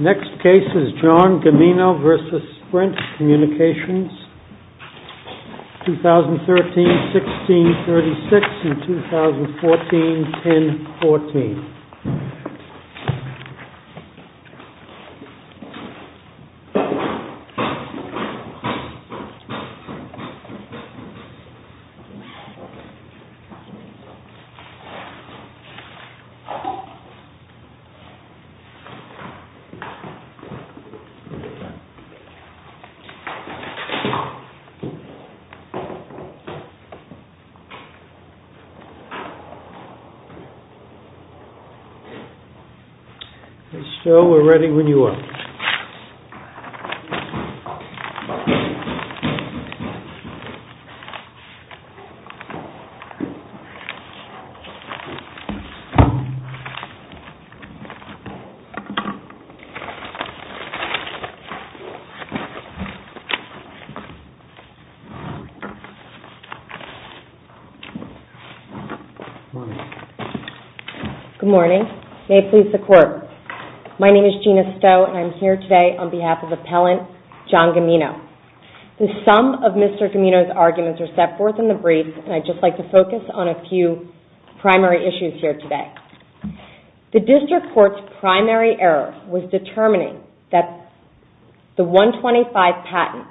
Next case is John Gammino v. Sprint Communications 2013-16-36 and 2014-10-14 So, we're ready when you are. Good morning. May it please the Court. My name is Gina Stowe and I'm here today on behalf of Appellant John Gammino. The sum of Mr. Gammino's arguments are set forth in the brief and I'd just like to focus on a few primary issues here today. The District Court's primary error was determining that the 125 patent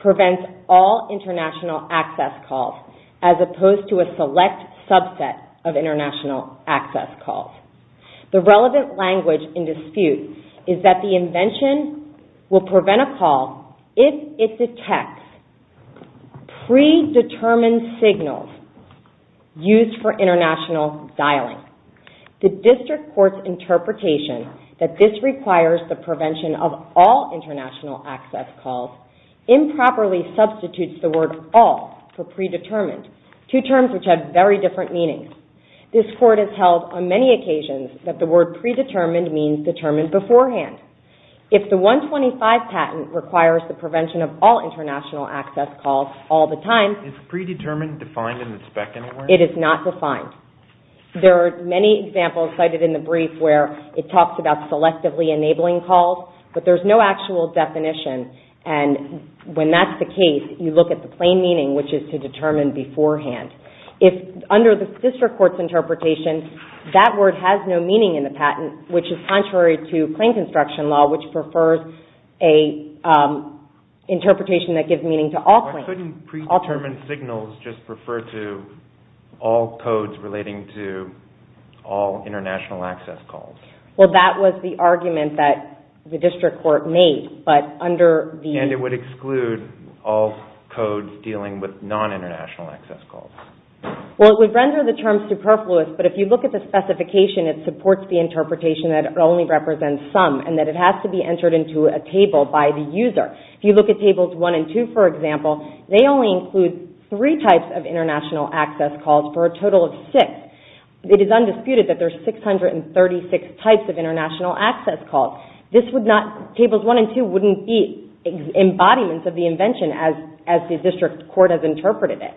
prevents all international access calls as opposed to a select subset of international access calls. The relevant language in dispute is that the invention will prevent a call if it detects predetermined signals used for international dialing. The District Court's interpretation that this requires the prevention of all international access calls improperly substitutes the word all for predetermined, two terms which have very different meanings. This Court has held on many occasions that the word predetermined means determined beforehand. If the 125 patent requires the prevention of all international access calls all the time... Is predetermined defined in the spec anywhere? It is not defined. There are many examples cited in the brief where it talks about selectively enabling calls, but there's no actual definition and when that's the case, you look at the plain meaning which is to determine beforehand. Under the District Court's interpretation, that word has no meaning in the patent, which is contrary to plain construction law which prefers an interpretation that gives meaning to all claims. Why couldn't predetermined signals just refer to all codes relating to all international access calls? Well, that was the argument that the District Court made, but under the... Well, it would render the term superfluous, but if you look at the specification, it supports the interpretation that it only represents some and that it has to be entered into a table by the user. If you look at Tables 1 and 2, for example, they only include three types of international access calls for a total of six. It is undisputed that there are 636 types of international access calls. Tables 1 and 2 wouldn't be embodiments of the invention as the District Court has interpreted it.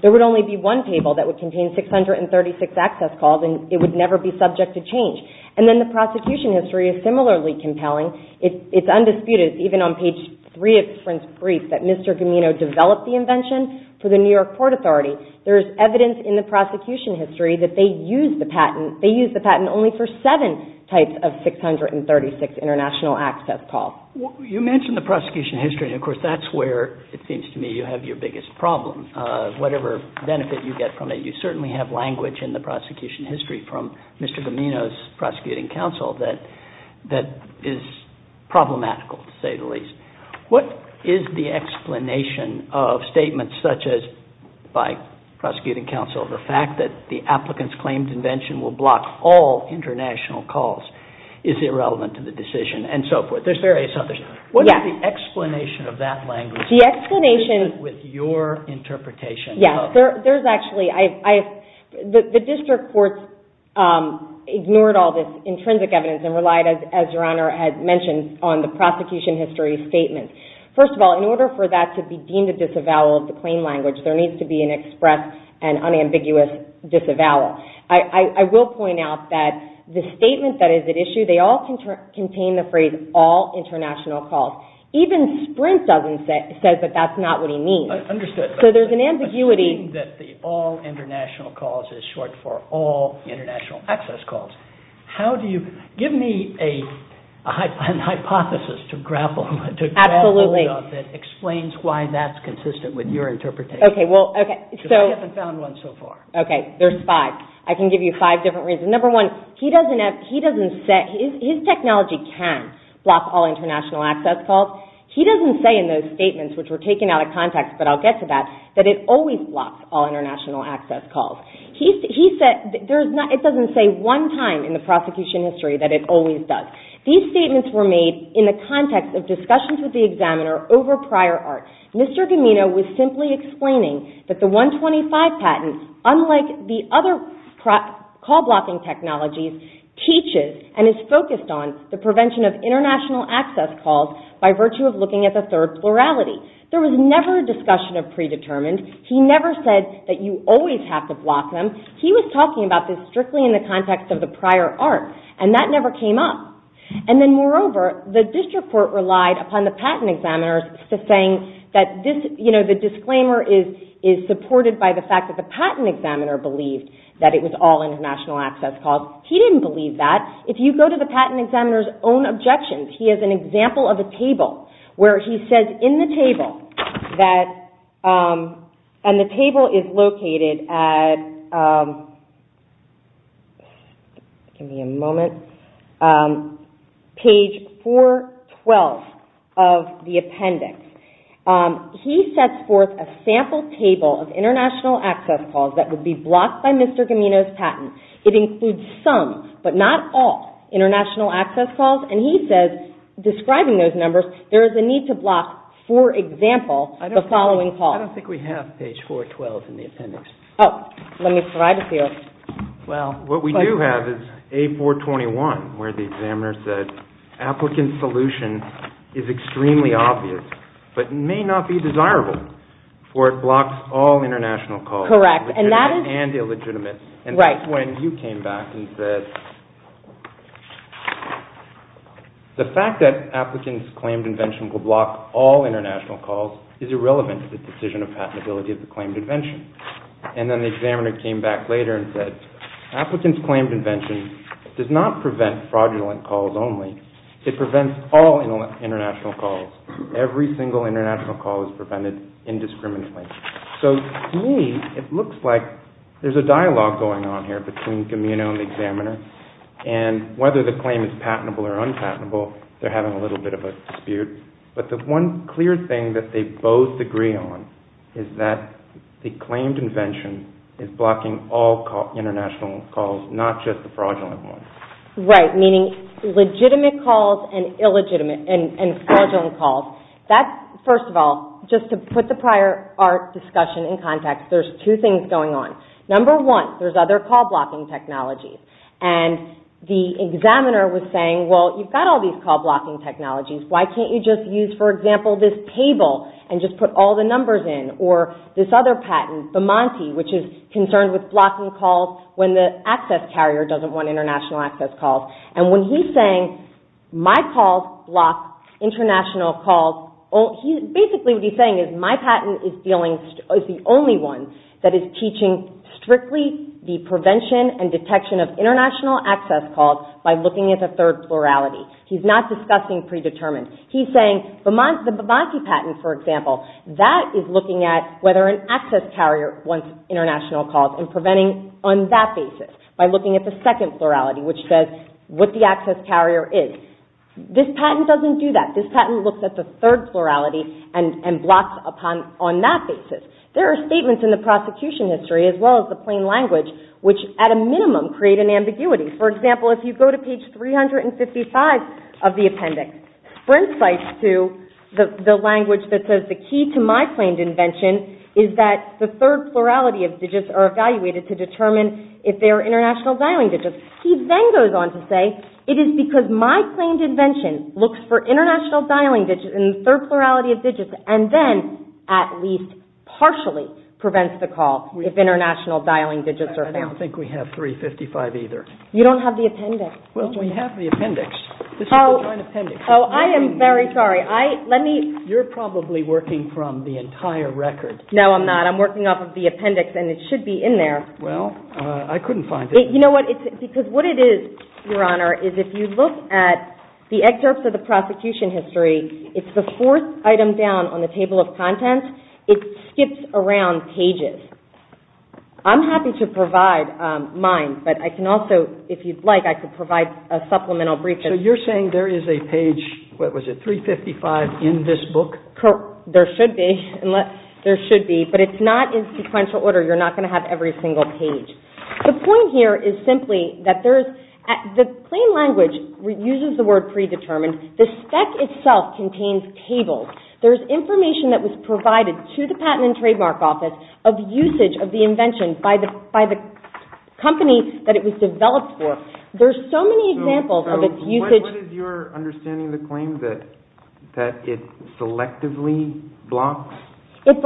There would only be one table that would contain 636 access calls and it would never be subject to change. And then the prosecution history is similarly compelling. It's undisputed, even on page 3 of the brief, that Mr. Gamino developed the invention for the New York Court Authority. There's evidence in the prosecution history that they used the patent only for seven types of 636 international access calls. You mentioned the prosecution history and, of course, that's where it seems to me you have your biggest problem. Whatever benefit you get from it, you certainly have language in the prosecution history from Mr. Gamino's prosecuting counsel that is problematical, to say the least. What is the explanation of statements such as, by prosecuting counsel, the fact that the applicant's claimed invention will block all international calls is irrelevant to the decision and so forth? There's various others. What is the explanation of that language with your interpretation? The District Court ignored all this intrinsic evidence and relied, as Your Honor has mentioned, on the prosecution history statement. First of all, in order for that to be deemed a disavowal of the claim language, there needs to be an express and unambiguous disavowal. I will point out that the statement that is at issue, they all contain the phrase all international calls. Even Sprint says that that's not what he means. I understand. So there's an ambiguity. I think that the all international calls is short for all international access calls. Give me a hypothesis to grapple with that explains why that's consistent with your interpretation. Okay. I haven't found one so far. Okay. There's five. I can give you five different reasons. Number one, his technology can block all international access calls. He doesn't say in those statements, which were taken out of context, but I'll get to that, that it always blocks all international access calls. It doesn't say one time in the prosecution history that it always does. These statements were made in the context of discussions with the examiner over prior art. Mr. Gamino was simply explaining that the 125 patent, unlike the other call blocking technologies, teaches and is focused on the prevention of international access calls by virtue of looking at the third plurality. There was never a discussion of predetermined. He never said that you always have to block them. He was talking about this strictly in the context of the prior art, and that never came up. Moreover, the district court relied upon the patent examiners to say that the disclaimer is supported by the fact that the patent examiner believed that it was all international access calls. He didn't believe that. If you go to the patent examiner's own objections, he has an example of a table where he says in the table, and the table is located at, give me a moment, page 412 of the appendix. He sets forth a sample table of international access calls that would be blocked by Mr. Gamino's patent. It includes some, but not all, international access calls. He says, describing those numbers, there is a need to block, for example, the following call. I don't think we have page 412 in the appendix. Oh, let me try to see it. Well, what we do have is A421, where the examiner says, applicant's solution is extremely obvious, but may not be desirable, for it blocks all international calls, legitimate and illegitimate. When you came back and said, the fact that applicant's claimed invention will block all international calls is irrelevant to the decision of patentability of the claimed invention. And then the examiner came back later and said, applicant's claimed invention does not prevent fraudulent calls only. It prevents all international calls. Every single international call is prevented indiscriminately. So, to me, it looks like there's a dialogue going on here between Gamino and the examiner, and whether the claim is patentable or unpatentable, they're having a little bit of a dispute. But the one clear thing that they both agree on is that the claimed invention is blocking all international calls, not just the fraudulent one. Right, meaning legitimate calls and fraudulent calls. First of all, just to put the prior discussion in context, there's two things going on. Number one, there's other call-blocking technologies. And the examiner was saying, well, you've got all these call-blocking technologies. Why can't you just use, for example, this table and just put all the numbers in? Or this other patent, Vamonti, which is concerned with blocking calls when the access carrier doesn't want international access calls. And when he's saying my calls block international calls, basically what he's saying is my patent is the only one that is teaching strictly the prevention and detection of international access calls by looking at the third plurality. He's not discussing predetermined. He's saying the Vamonti patent, for example, that is looking at whether an access carrier wants international calls and preventing on that basis by looking at the second plurality, which says what the access carrier is. This patent doesn't do that. This patent looks at the third plurality and blocks on that basis. There are statements in the prosecution history, as well as the plain language, which at a minimum create an ambiguity. For example, if you go to page 355 of the appendix, Sprint cites to the language that says the key to my claimed invention is that the third plurality of digits are evaluated to determine if they are international dialing digits. He then goes on to say it is because my claimed invention looks for international dialing digits and the third plurality of digits and then at least partially prevents the call if international dialing digits are found. I don't think we have 355 either. You don't have the appendix. Well, we have the appendix. This is the joint appendix. Oh, I am very sorry. You're probably working from the entire record. No, I'm not. I'm working off of the appendix, and it should be in there. Well, I couldn't find it. You know what? Because what it is, Your Honor, is if you look at the excerpts of the prosecution history, it's the fourth item down on the table of contents. It skips around pages. I'm happy to provide mine, but I can also, if you'd like, I could provide a supplemental brief. So you're saying there is a page, what was it, 355 in this book? There should be. There should be, but it's not in sequential order. You're not going to have every single page. The point here is simply that the claim language uses the word predetermined. The spec itself contains tables. There is information that was provided to the Patent and Trademark Office of usage of the invention by the company that it was developed for. There are so many examples of its usage. So what is your understanding of the claim, that it selectively blocks certain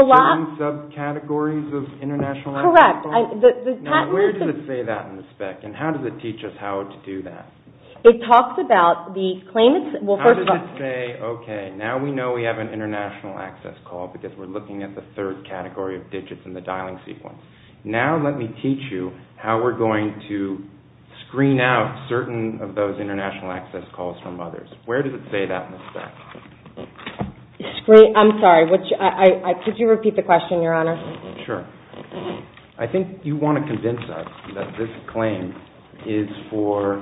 subcategories of international law? That's correct. Now, where does it say that in the spec, and how does it teach us how to do that? It talks about the claimant's... How does it say, okay, now we know we have an international access call because we're looking at the third category of digits in the dialing sequence. Now let me teach you how we're going to screen out certain of those international access calls from others. Where does it say that in the spec? I'm sorry, could you repeat the question, Your Honor? Sure. I think you want to convince us that this claim is for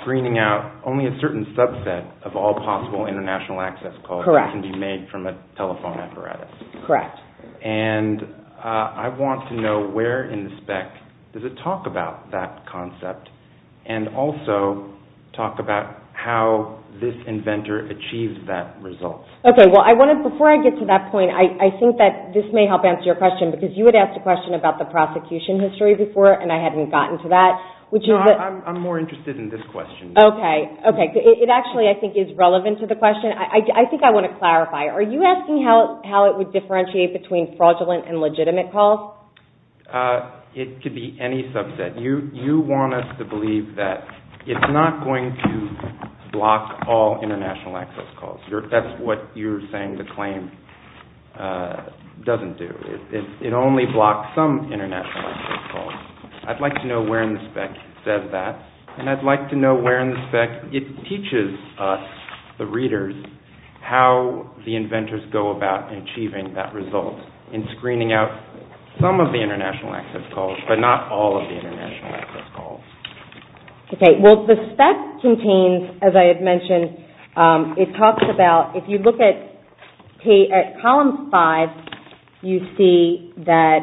screening out only a certain subset of all possible international access calls that can be made from a telephone apparatus. Correct. And I want to know where in the spec does it talk about that concept and also talk about how this inventor achieves that result. Okay, well, before I get to that point, I think that this may help answer your question because you had asked a question about the prosecution history before, and I hadn't gotten to that. No, I'm more interested in this question. Okay. It actually, I think, is relevant to the question. I think I want to clarify. Are you asking how it would differentiate between fraudulent and legitimate calls? It could be any subset. You want us to believe that it's not going to block all international access calls. That's what you're saying the claim doesn't do. It only blocks some international access calls. I'd like to know where in the spec it says that, and I'd like to know where in the spec it teaches us, the readers, how the inventors go about achieving that result in screening out some of the international access calls but not all of the international access calls. Okay, well, the spec contains, as I had mentioned, it talks about, if you look at columns 5, you see that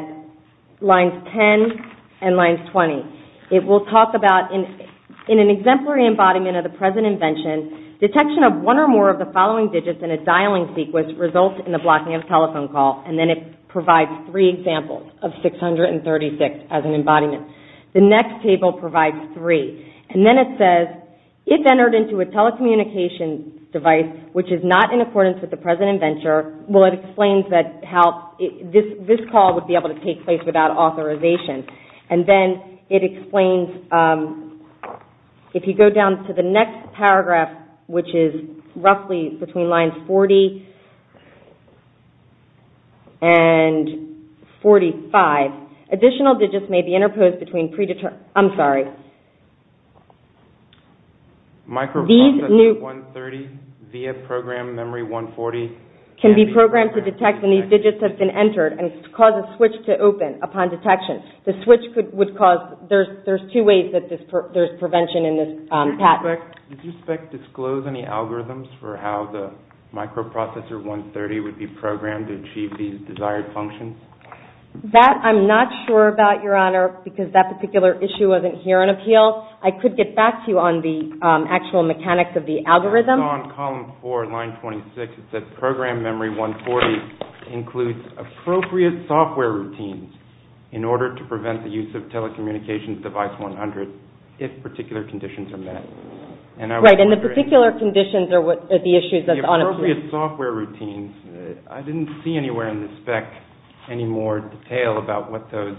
lines 10 and lines 20. It will talk about, in an exemplary embodiment of the present invention, detection of one or more of the following digits in a dialing sequence results in the blocking of a telephone call, and then it provides three examples of 636 as an embodiment. The next table provides three, and then it says, if entered into a telecommunication device which is not in accordance with the present inventor, well, it explains that this call would be able to take place without authorization, and then it explains, if you go down to the next paragraph, which is roughly between lines 40 and 45, additional digits may be interposed between predetermined, I'm sorry, these new, can be programmed to detect when these digits have been entered and cause a switch to open upon detection. The switch would cause, there's two ways that there's prevention in this pattern. Does your spec disclose any algorithms for how the microprocessor 130 would be programmed to achieve these desired functions? That, I'm not sure about, Your Honor, because that particular issue wasn't here on appeal. I could get back to you on the actual mechanics of the algorithm. It's on column four, line 26. It says, program memory 140 includes appropriate software routines in order to prevent the use of telecommunications device 100 if particular conditions are met. Right, and the particular conditions are the issues that's on appeal. Appropriate software routines. I didn't see anywhere in the spec any more detail about what those,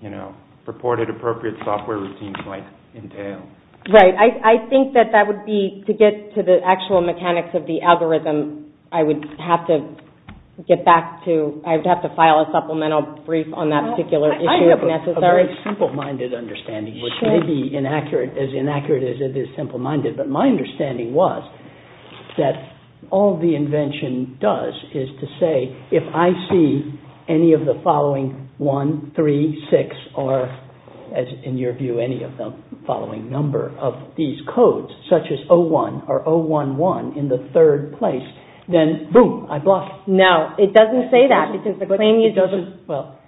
you know, purported appropriate software routines might entail. Right. I think that that would be, to get to the actual mechanics of the algorithm, I would have to get back to, I'd have to file a supplemental brief on that particular issue if necessary. I have a very simple-minded understanding, which may be as inaccurate as it is simple-minded, but my understanding was that all the invention does is to say, if I see any of the following one, three, six, or, as in your view, any of the following number of these codes, such as 01 or 011 in the third place, then, boom, I block it. No, it doesn't say that. It doesn't, well,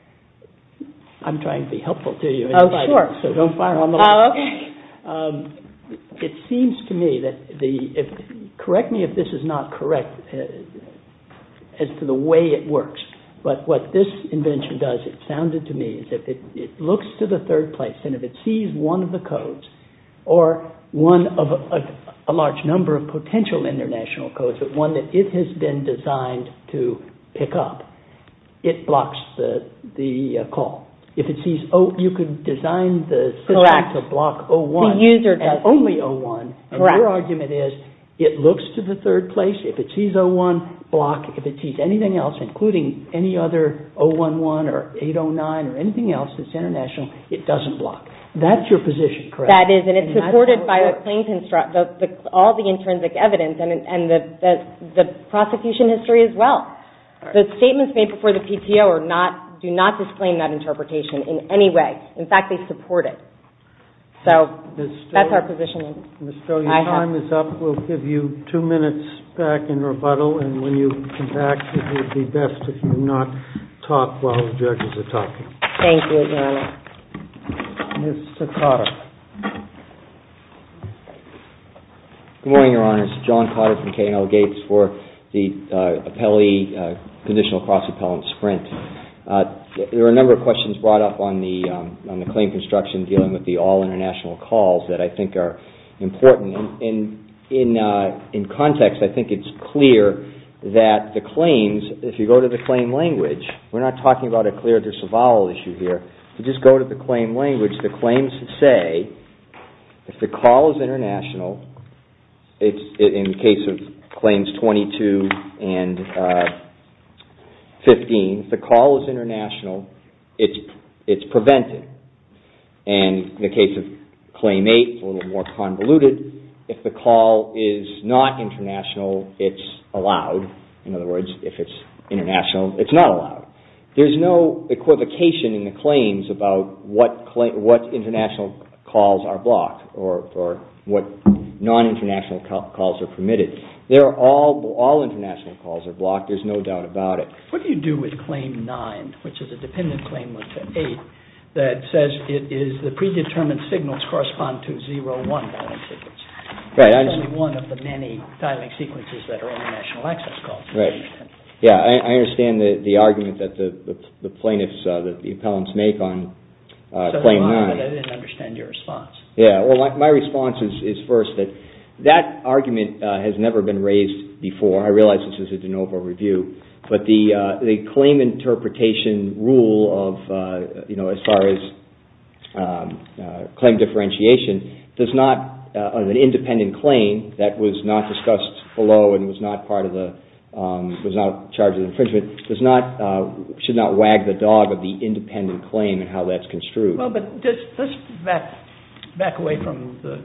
I'm trying to be helpful to you. Oh, sure. So don't fire on me. Okay. It seems to me that the, correct me if this is not correct as to the way it works, but what this invention does, it sounded to me, is if it looks to the third place and if it sees one of the codes or one of a large number of potential international codes, but one that it has been designed to pick up, it blocks the call. If it sees, oh, you can design the system to block 01 as only 01. Correct. And your argument is it looks to the third place, if it sees 01, block. If it sees anything else, including any other 011 or 809 or anything else that's international, it doesn't block. That's your position, correct? That is, and it's supported by all the intrinsic evidence and the prosecution history as well. The statements made before the PTO do not disclaim that interpretation in any way. In fact, they support it. So that's our position. Ms. Stowe, your time is up. We'll give you two minutes back in rebuttal, and when you come back, it would be best if you do not talk while the judges are talking. Thank you, Your Honor. Mr. Cotter. Good morning, Your Honor. This is John Cotter from KNL Gates for the appellee conditional cross-appellant sprint. There are a number of questions brought up on the claim construction dealing with the all-international calls that I think are important. In context, I think it's clear that the claims, if you go to the claim language, we're not talking about a clear disavowal issue here. If you just go to the claim language, the claims say if the call is international, in the case of claims 22 and 15, if the call is international, it's prevented. And in the case of claim 8, it's a little more convoluted. If the call is not international, it's allowed. In other words, if it's international, it's not allowed. There's no equivocation in the claims about what international calls are blocked or what non-international calls are permitted. All international calls are blocked. There's no doubt about it. What do you do with claim 9, which is a dependent claim, which is 8, that says the predetermined signals correspond to 0, 1 calling sequence? Right. One of the many dialing sequences that are international access calls. Right. I understand the argument that the plaintiffs, that the appellants make on claim 9. I didn't understand your response. My response is first that that argument has never been raised before. I realize this is a de novo review. But the claim interpretation rule as far as claim differentiation does not, an independent claim that was not discussed below and was not part of the, was not charged with infringement, does not, should not wag the dog of the independent claim and how that's construed. Well, but let's back away from the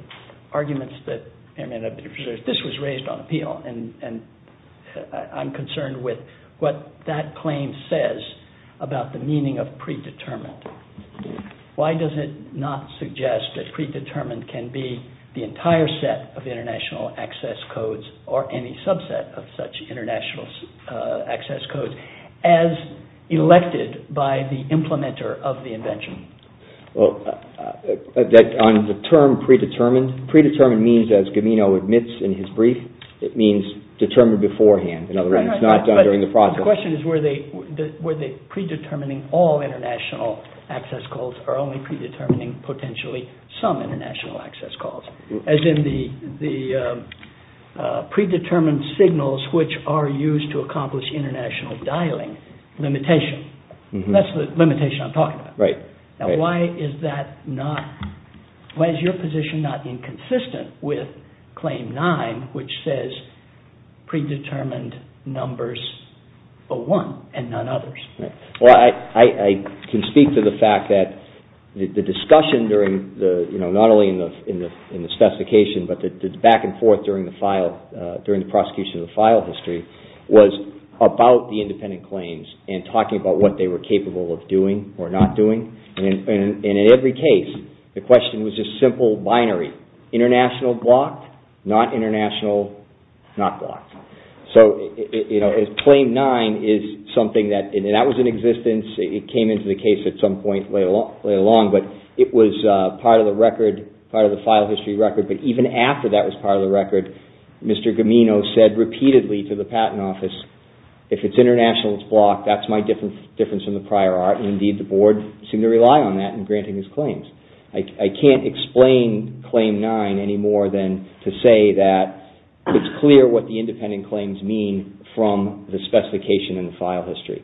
arguments that, this was raised on appeal. And I'm concerned with what that claim says about the meaning of predetermined. Why does it not suggest that predetermined can be the entire set of international access codes or any subset of such international access codes as elected by the implementer of the invention? Well, on the term predetermined, predetermined means, as Gamino admits in his brief, it means determined beforehand. In other words, it's not done during the process. My question is were they predetermining all international access codes or only predetermining potentially some international access codes? As in the predetermined signals which are used to accomplish international dialing limitation. That's the limitation I'm talking about. Right. Now why is that not, why is your position not inconsistent with claim 9 which says predetermined numbers 01 and none others? Well, I can speak to the fact that the discussion during the, you know, not only in the specification but the back and forth during the file, during the prosecution of the file history was about the independent claims and talking about what they were capable of doing or not doing. And in every case, the question was just simple binary. International blocked, not international not blocked. So, you know, claim 9 is something that, and that was in existence, it came into the case at some point later on, but it was part of the record, part of the file history record, but even after that was part of the record, Mr. Gamino said repeatedly to the patent office, if it's international it's blocked, that's my difference from the prior art, and indeed the board seemed to rely on that in granting his claims. I can't explain claim 9 any more than to say that it's clear what the independent claims mean from the specification in the file history.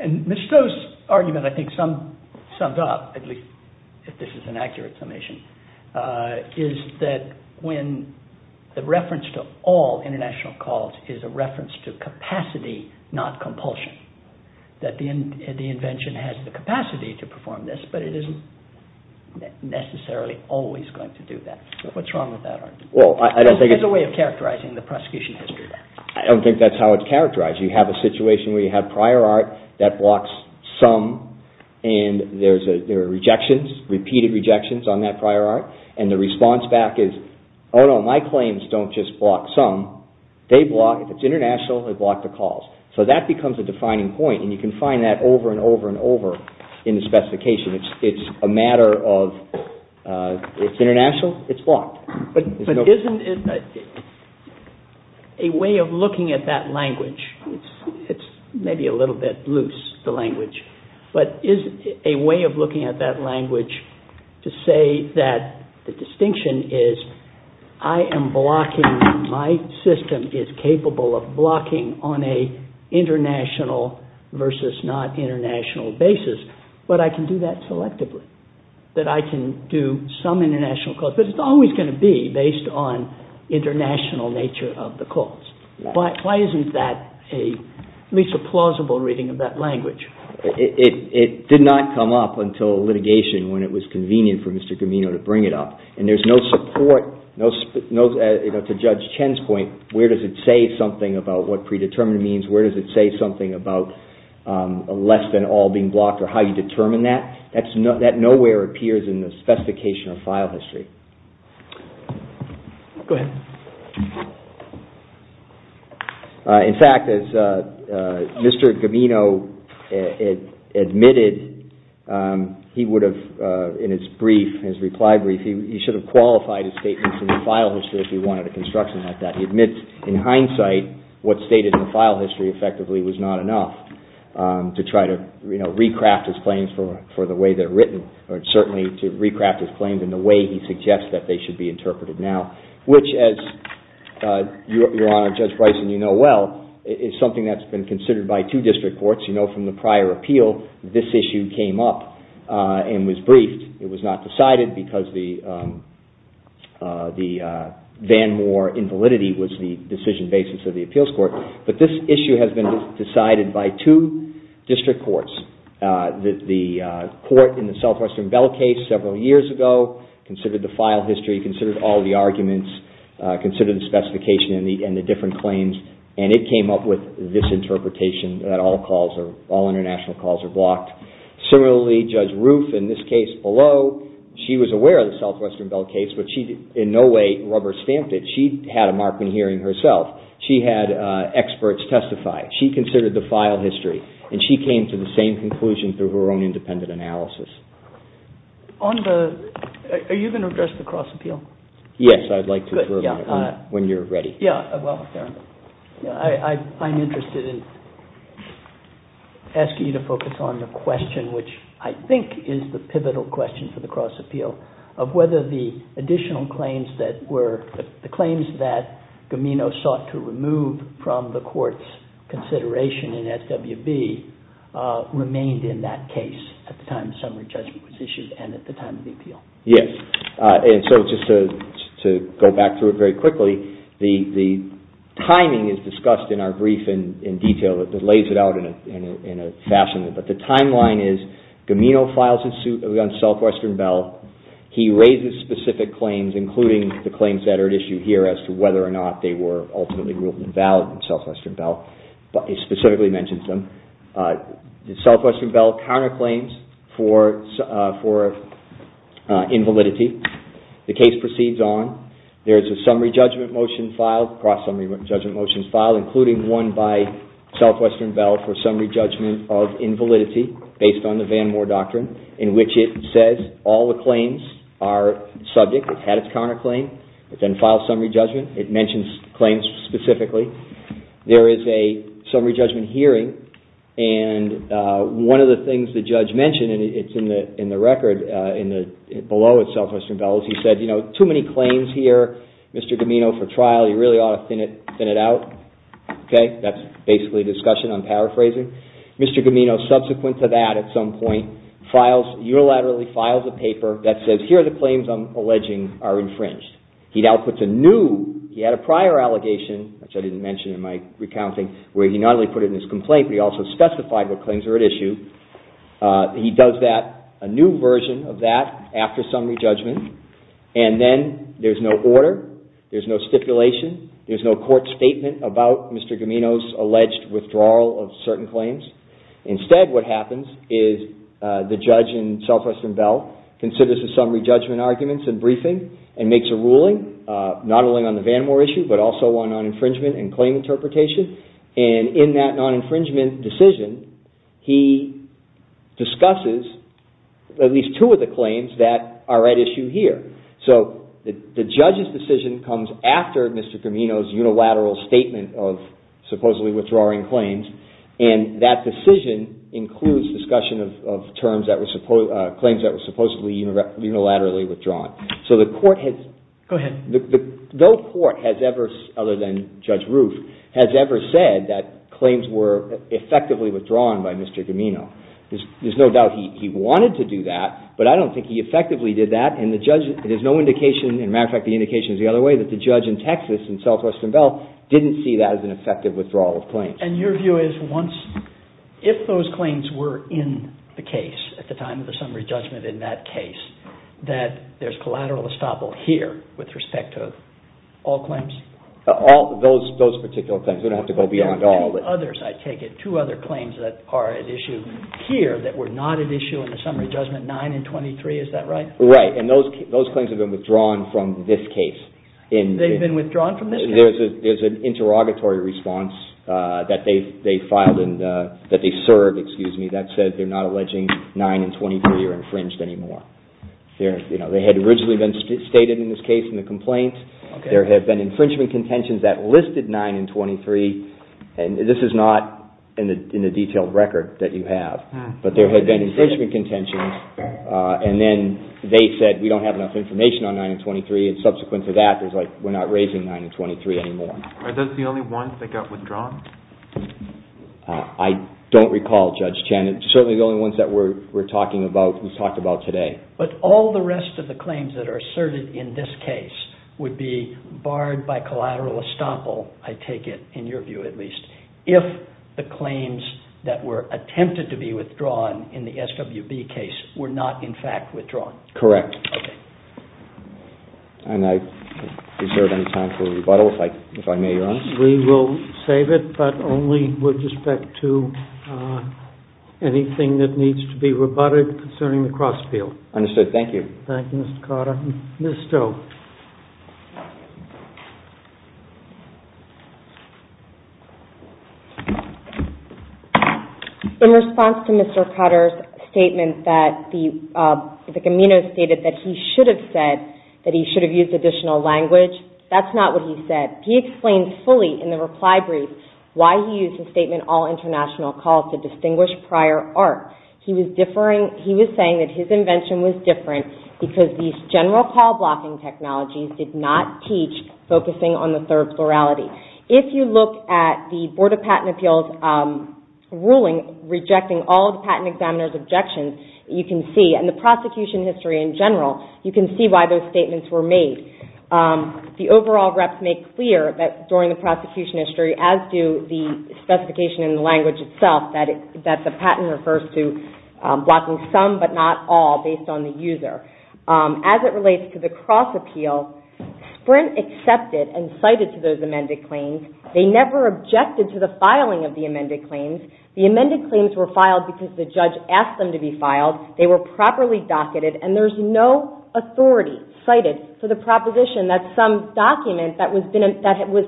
And Mr. Stowe's argument I think sums up, at least if this is an accurate summation, is that when the reference to all international calls is a reference to capacity, not compulsion, that the invention has the capacity to perform this, but it isn't necessarily always going to do that. What's wrong with that argument? It's a way of characterizing the prosecution history. I don't think that's how it's characterized. You have a situation where you have prior art that blocks some, and there are rejections, repeated rejections on that prior art, and the response back is, oh no, my claims don't just block some, they block, if it's international, they block the calls. In the specification, it's a matter of it's international, it's blocked. But isn't it a way of looking at that language, it's maybe a little bit loose, the language, but is a way of looking at that language to say that the distinction is I am blocking, my system is capable of blocking on an international versus not international basis, but I can do that selectively, that I can do some international calls, but it's always going to be based on international nature of the calls. Why isn't that at least a plausible reading of that language? It did not come up until litigation when it was convenient for Mr. Camino to bring it up, and there's no support, to Judge Chen's point, where does it say something about what predetermined means, where does it say something about less than all being blocked or how you determine that? That nowhere appears in the specification of file history. In fact, as Mr. Camino admitted, he would have, in his brief, his reply brief, he should have qualified his statements in the file history if he wanted a construction at that. He admits in hindsight what's stated in the file history effectively was not enough to try to, you know, recraft his claims for the way they're written, or certainly to recraft his claims in the way he suggests that they should be interpreted now, which as Your Honor, Judge Bryson, you know well, is something that's been considered by two district courts. You know from the prior appeal, this issue came up and was briefed. It was not decided because the Van Moore invalidity was the decision basis of the appeals court, but this issue has been decided by two district courts. The court in the Southwestern Bell case several years ago considered the file history, considered all the arguments, considered the specification and the different claims, and it came up with this interpretation that all international calls are blocked. Similarly, Judge Roof in this case below, she was aware of the Southwestern Bell case, but she in no way rubber stamped it. She had a Markman hearing herself. She had experts testify. She considered the file history, and she came to the same conclusion through her own independent analysis. Are you going to address the cross appeal? Yes, I'd like to when you're ready. I'm interested in asking you to focus on the question, which I think is the pivotal question for the cross appeal, of whether the additional claims that were, the claims that Gamino sought to remove from the court's consideration in SWB remained in that case at the time the summary judgment was issued and at the time of the appeal. Yes, and so just to go back through it very quickly, the timing is discussed in our brief in detail that lays it out in a fashion, but the timeline is Gamino files a suit against Southwestern Bell. He raises specific claims, including the claims that are at issue here as to whether or not they were ultimately ruled invalid in Southwestern Bell, but he specifically mentions them. Southwestern Bell counterclaims for invalidity. The case proceeds on. There is a summary judgment motion filed, a cross summary judgment motion filed, including one by Southwestern Bell for summary judgment of invalidity based on the Van Moore Doctrine, in which it says all the claims are subject. It had its counterclaim. It then files summary judgment. It mentions claims specifically. There is a summary judgment hearing, and one of the things the judge mentioned, and it's in the record below at Southwestern Bell, is he said, you know, too many claims here. Mr. Gamino, for trial, you really ought to thin it out. Okay? That's basically discussion. I'm paraphrasing. Mr. Gamino, subsequent to that at some point, files, unilaterally files a paper that says, here are the claims I'm alleging are infringed. He now puts a new, he had a prior allegation, which I didn't mention in my recounting, where he not only put it in his complaint, but he also specified what claims are at issue. He does that, a new version of that, after summary judgment, and then there's no order, there's no stipulation, there's no court statement about Mr. Gamino's alleged withdrawal of certain claims. Instead, what happens is the judge in Southwestern Bell considers the summary judgment arguments and briefing and makes a ruling, not only on the Vanamore issue, but also on non-infringement and claim interpretation, and in that non-infringement decision, he discusses at least two of the claims that are at issue here. So the judge's decision comes after Mr. Gamino's unilateral statement of supposedly withdrawing claims, and that decision includes discussion of claims that were supposedly unilaterally withdrawn. So the court has... Go ahead. No court has ever, other than Judge Roof, has ever said that claims were effectively withdrawn by Mr. Gamino. There's no doubt he wanted to do that, but I don't think he effectively did that, and there's no indication, as a matter of fact, the indication is the other way, that the judge in Texas, in Southwestern Bell, didn't see that as an effective withdrawal of claims. And your view is once... If those claims were in the case at the time of the summary judgment in that case, that there's collateral estoppel here with respect to all claims? Those particular claims. We don't have to go beyond all of it. And others, I take it, two other claims that are at issue here that were not at issue in the summary judgment, 9 and 23, is that right? Right. And those claims have been withdrawn from this case. They've been withdrawn from this case? There's an interrogatory response that they filed, that they served, that said they're not alleging 9 and 23 are infringed anymore. They had originally been stated in this case in the complaint. There have been infringement contentions that listed 9 and 23. And this is not in the detailed record that you have. But there have been infringement contentions. And then they said, we don't have enough information on 9 and 23. And subsequent to that, it was like, we're not raising 9 and 23 anymore. Are those the only ones that got withdrawn? I don't recall, Judge Chen. It's certainly the only ones that we're talking about, we've talked about today. But all the rest of the claims that are asserted in this case would be barred by collateral estoppel, I take it, in your view at least, if the claims that were attempted to be withdrawn in the SWB case were not in fact withdrawn. Correct. Okay. And is there any time for rebuttal, if I may be honest? We will save it, but only with respect to anything that needs to be rebutted concerning the cross-appeal. Understood. Thank you. Thank you, Mr. Cotter. Ms. Stowe. In response to Mr. Cotter's statement that the Camino stated that he should have said that he should have used additional language, that's not what he said. He explained fully in the reply brief why he used the statement all international calls to distinguish prior art. He was differing, he was saying that his invention was different because these general call blocking technologies did not teach focusing on the third plurality. If you look at the Board of Patent Appeals ruling rejecting all the patent examiner's objections, you can see, and the prosecution history in general, you can see why those statements were made. The overall reps make clear that during the prosecution history, as do the specification in the language itself, that the patent refers to but not all based on the user. As it relates to the cross-appeal, Sprint accepted and cited to those amended claims. They never objected to the filing of the amended claims. The amended claims were filed because the judge asked them to be filed. They were properly docketed and there's no authority cited for the proposition that some document that was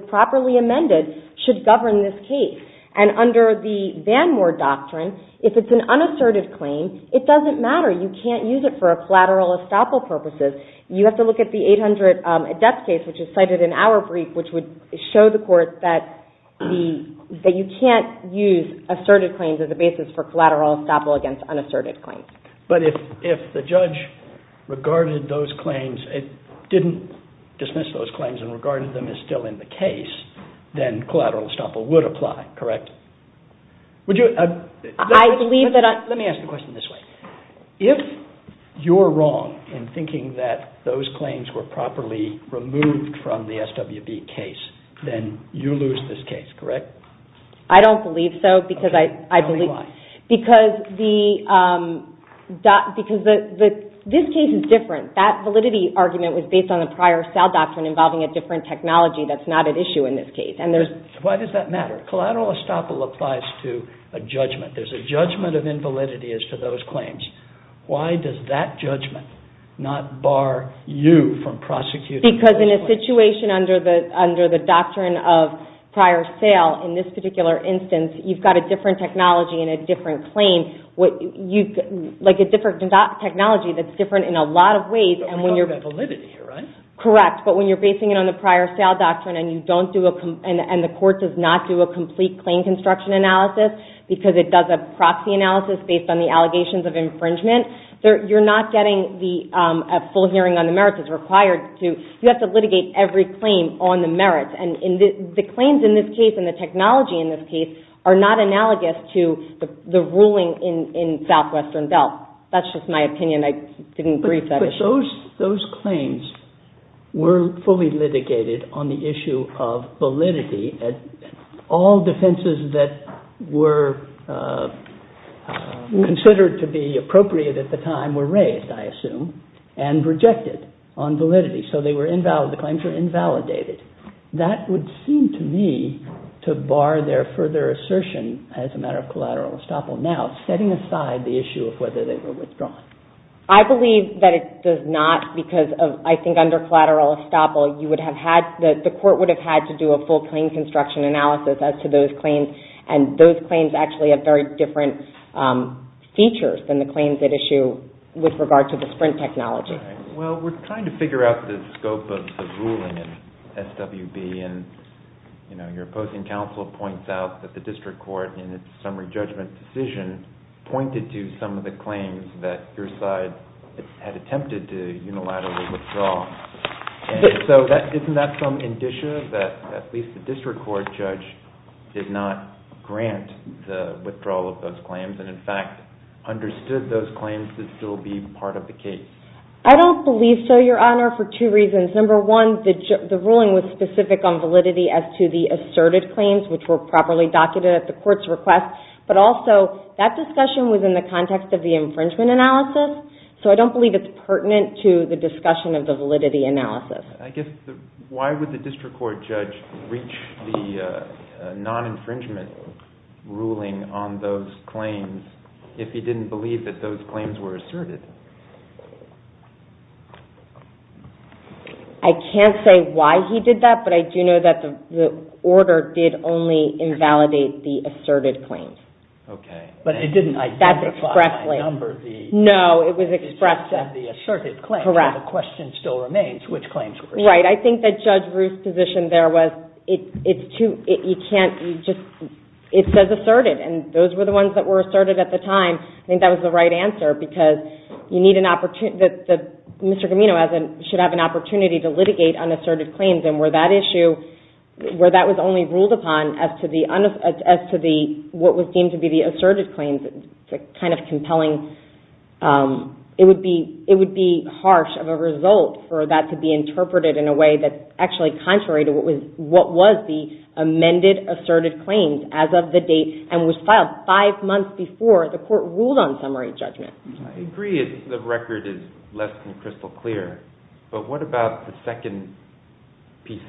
properly amended should govern this case. And under the Vanmore Doctrine, if it's an unassertive claim, it doesn't matter. You can't use it for a collateral estoppel purposes. You have to look at the 800 adept case which is cited in our brief which would show the court that you can't use assertive claims as a basis for collateral estoppel against unassertive claims. But if the judge regarded those claims, didn't dismiss those claims and regarded them as still in the case, then collateral estoppel would apply, correct? Let me ask the question this way. If you're wrong in thinking that those claims were properly removed from the SWB case, then you lose this case, correct? I don't believe so. Tell me why. Because this case is different. That validity argument was based on the prior cell doctrine involving a different technology that's not at issue in this case. Why does that matter? Collateral estoppel applies to a judgment. There's a judgment of invalidity as to those claims. Why does that judgment not bar you from prosecuting those claims? Because in a situation under the doctrine of prior sale in this particular instance, you've got a different technology and a different claim. Like a different technology that's different in a lot of ways. But you don't have that validity, right? Correct. But when you're basing it on the prior cell doctrine and the court does not do a complete claim construction analysis because it does a proxy analysis based on the allegations of infringement, you're not getting a full hearing on the merits that's required. You have to litigate every claim on the merits. The claims in this case and the technology in this case are not analogous to the ruling in SWB. That's just my opinion. I didn't brief that issue. But those claims were fully litigated on the issue of validity at all defenses that were considered to be appropriate at the time were raised, I assume, and rejected on validity. So they were invalid. The claims were invalidated. That would seem to me to bar their further assertion as a matter of collateral estoppel. Now, setting aside the issue of whether they were withdrawn. I believe that it does not because I think under collateral estoppel you would have had that the court would have had to do a full claim construction analysis as to those claims. And those claims actually have very different features than the claims at issue with regard to the Sprint technology. Well, we're trying to figure out the scope of the ruling in SWB. And your opposing counsel points out that the district court in its summary judgment decision pointed to some of the claims that your side had attempted to unilaterally withdraw. So isn't that some indicia that at least the district court judge did not grant the withdrawal of those claims and in fact understood those claims to still be part of the case? I don't believe so, Your Honor, for two reasons. Number one, the ruling was specific on validity as to the asserted claims which were properly documented at the court's request. But also, that discussion was in the context of the infringement analysis. So I don't believe it's pertinent to the discussion of the validity analysis. I guess, why would the district court judge reach the non-infringement ruling on those claims if he didn't believe that those claims were asserted? I can't say why he did that, but I do know that the order did only invalidate the asserted claims. Okay. But it didn't identify a number of the asserted claims. No, it was expressed. Correct. The question still remains which claims were asserted. Right. I think that Judge Ruth's position there was it says asserted, and those were the ones that were asserted at the time. I think that was the right answer because Mr. Gamino should have an opportunity to litigate unasserted claims, and where that was only ruled upon as to what was deemed to be the asserted claims, it's kind of compelling. It would be harsh of a result for that to be interpreted in a way that's actually contrary to what was the amended asserted claims as of the date and was filed five months before the court ruled on summary judgment. I agree the record is less than crystal clear, but what about the second piece,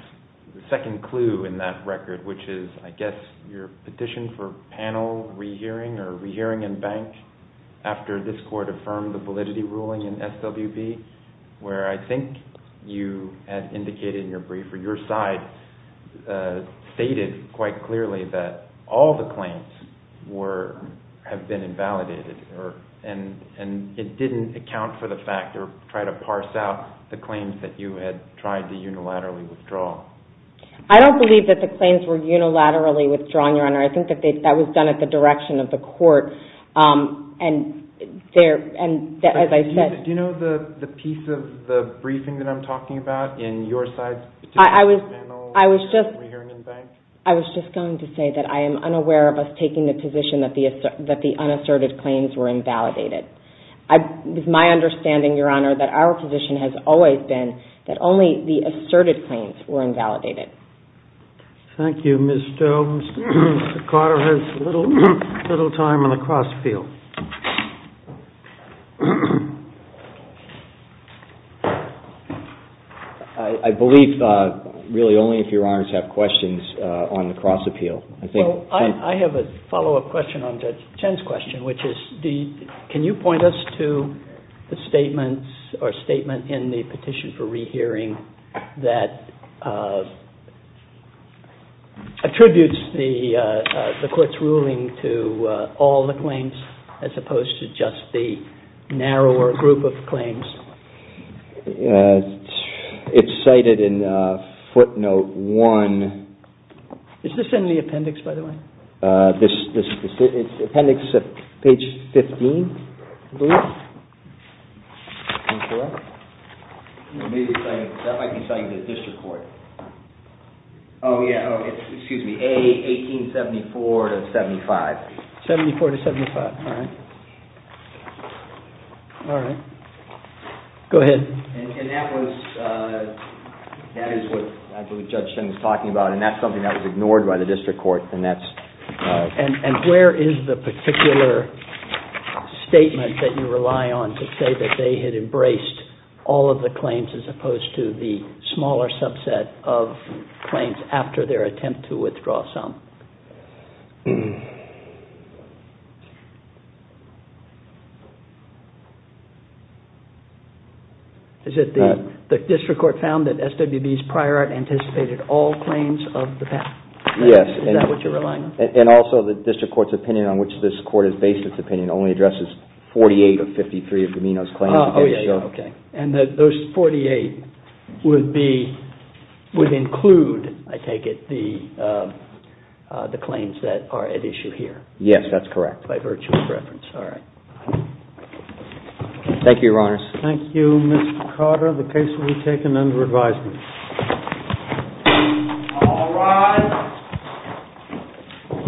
the second clue in that record, which is, I guess, your petition for panel rehearing or rehearing in bank after this court affirmed the validity ruling in SWB where I think you had indicated in your brief or your side stated quite clearly that all the claims have been invalidated and it didn't account for the fact or try to parse out the claims that you had tried to unilaterally withdraw. I don't believe that the claims were unilaterally withdrawn, Your Honor. I think that was done at the direction of the court, and as I said... Do you know the piece of the briefing that I'm talking about in your side's petition for panel... I was just... ...rehearing in bank? I was just going to say that I am unaware of us taking the position that the unasserted claims were invalidated. It's my understanding, Your Honor, that our position has always been that only the asserted claims were invalidated. Thank you, Ms. Jones. Mr. Carter has little time on the cross field. I believe, really, only if Your Honors have questions on the cross appeal. Well, I have a follow-up question on Judge Chen's question, which is, can you point us to the statement or statement in the petition for rehearing that attributes the court's ruling to all the claims as opposed to just the narrower group of claims? It's cited in footnote one... Is this in the appendix, by the way? This... It's appendix page 15, I believe. That might be citing the district court. Oh, yeah. Excuse me. A, 1874 to 75. 74 to 75. All right. Go ahead. And that was... That is what, I believe, Judge Chen was talking about, and that's something that was ignored by the district court, and that's... And where is the particular statement that you rely on to say that they had embraced all of the claims as opposed to the smaller subset of claims after their attempt to withdraw some? Is it the... The district court found that SWB's prior art anticipated all claims of the patent? Yes. Is that what you're relying on? And also, the district court's opinion on which this court is based its opinion only addresses 48 of 53 of D'Amino's claims. And those 48 would be... Would include, I take it, the... The... The... The... The... The... The... The... The... The claims that are at issue here. Yes, that's correct by virtue of preference. All right. Thank you, Your Honors. Thank you, Mr. Carter. The case will be taken under advisement. All rise.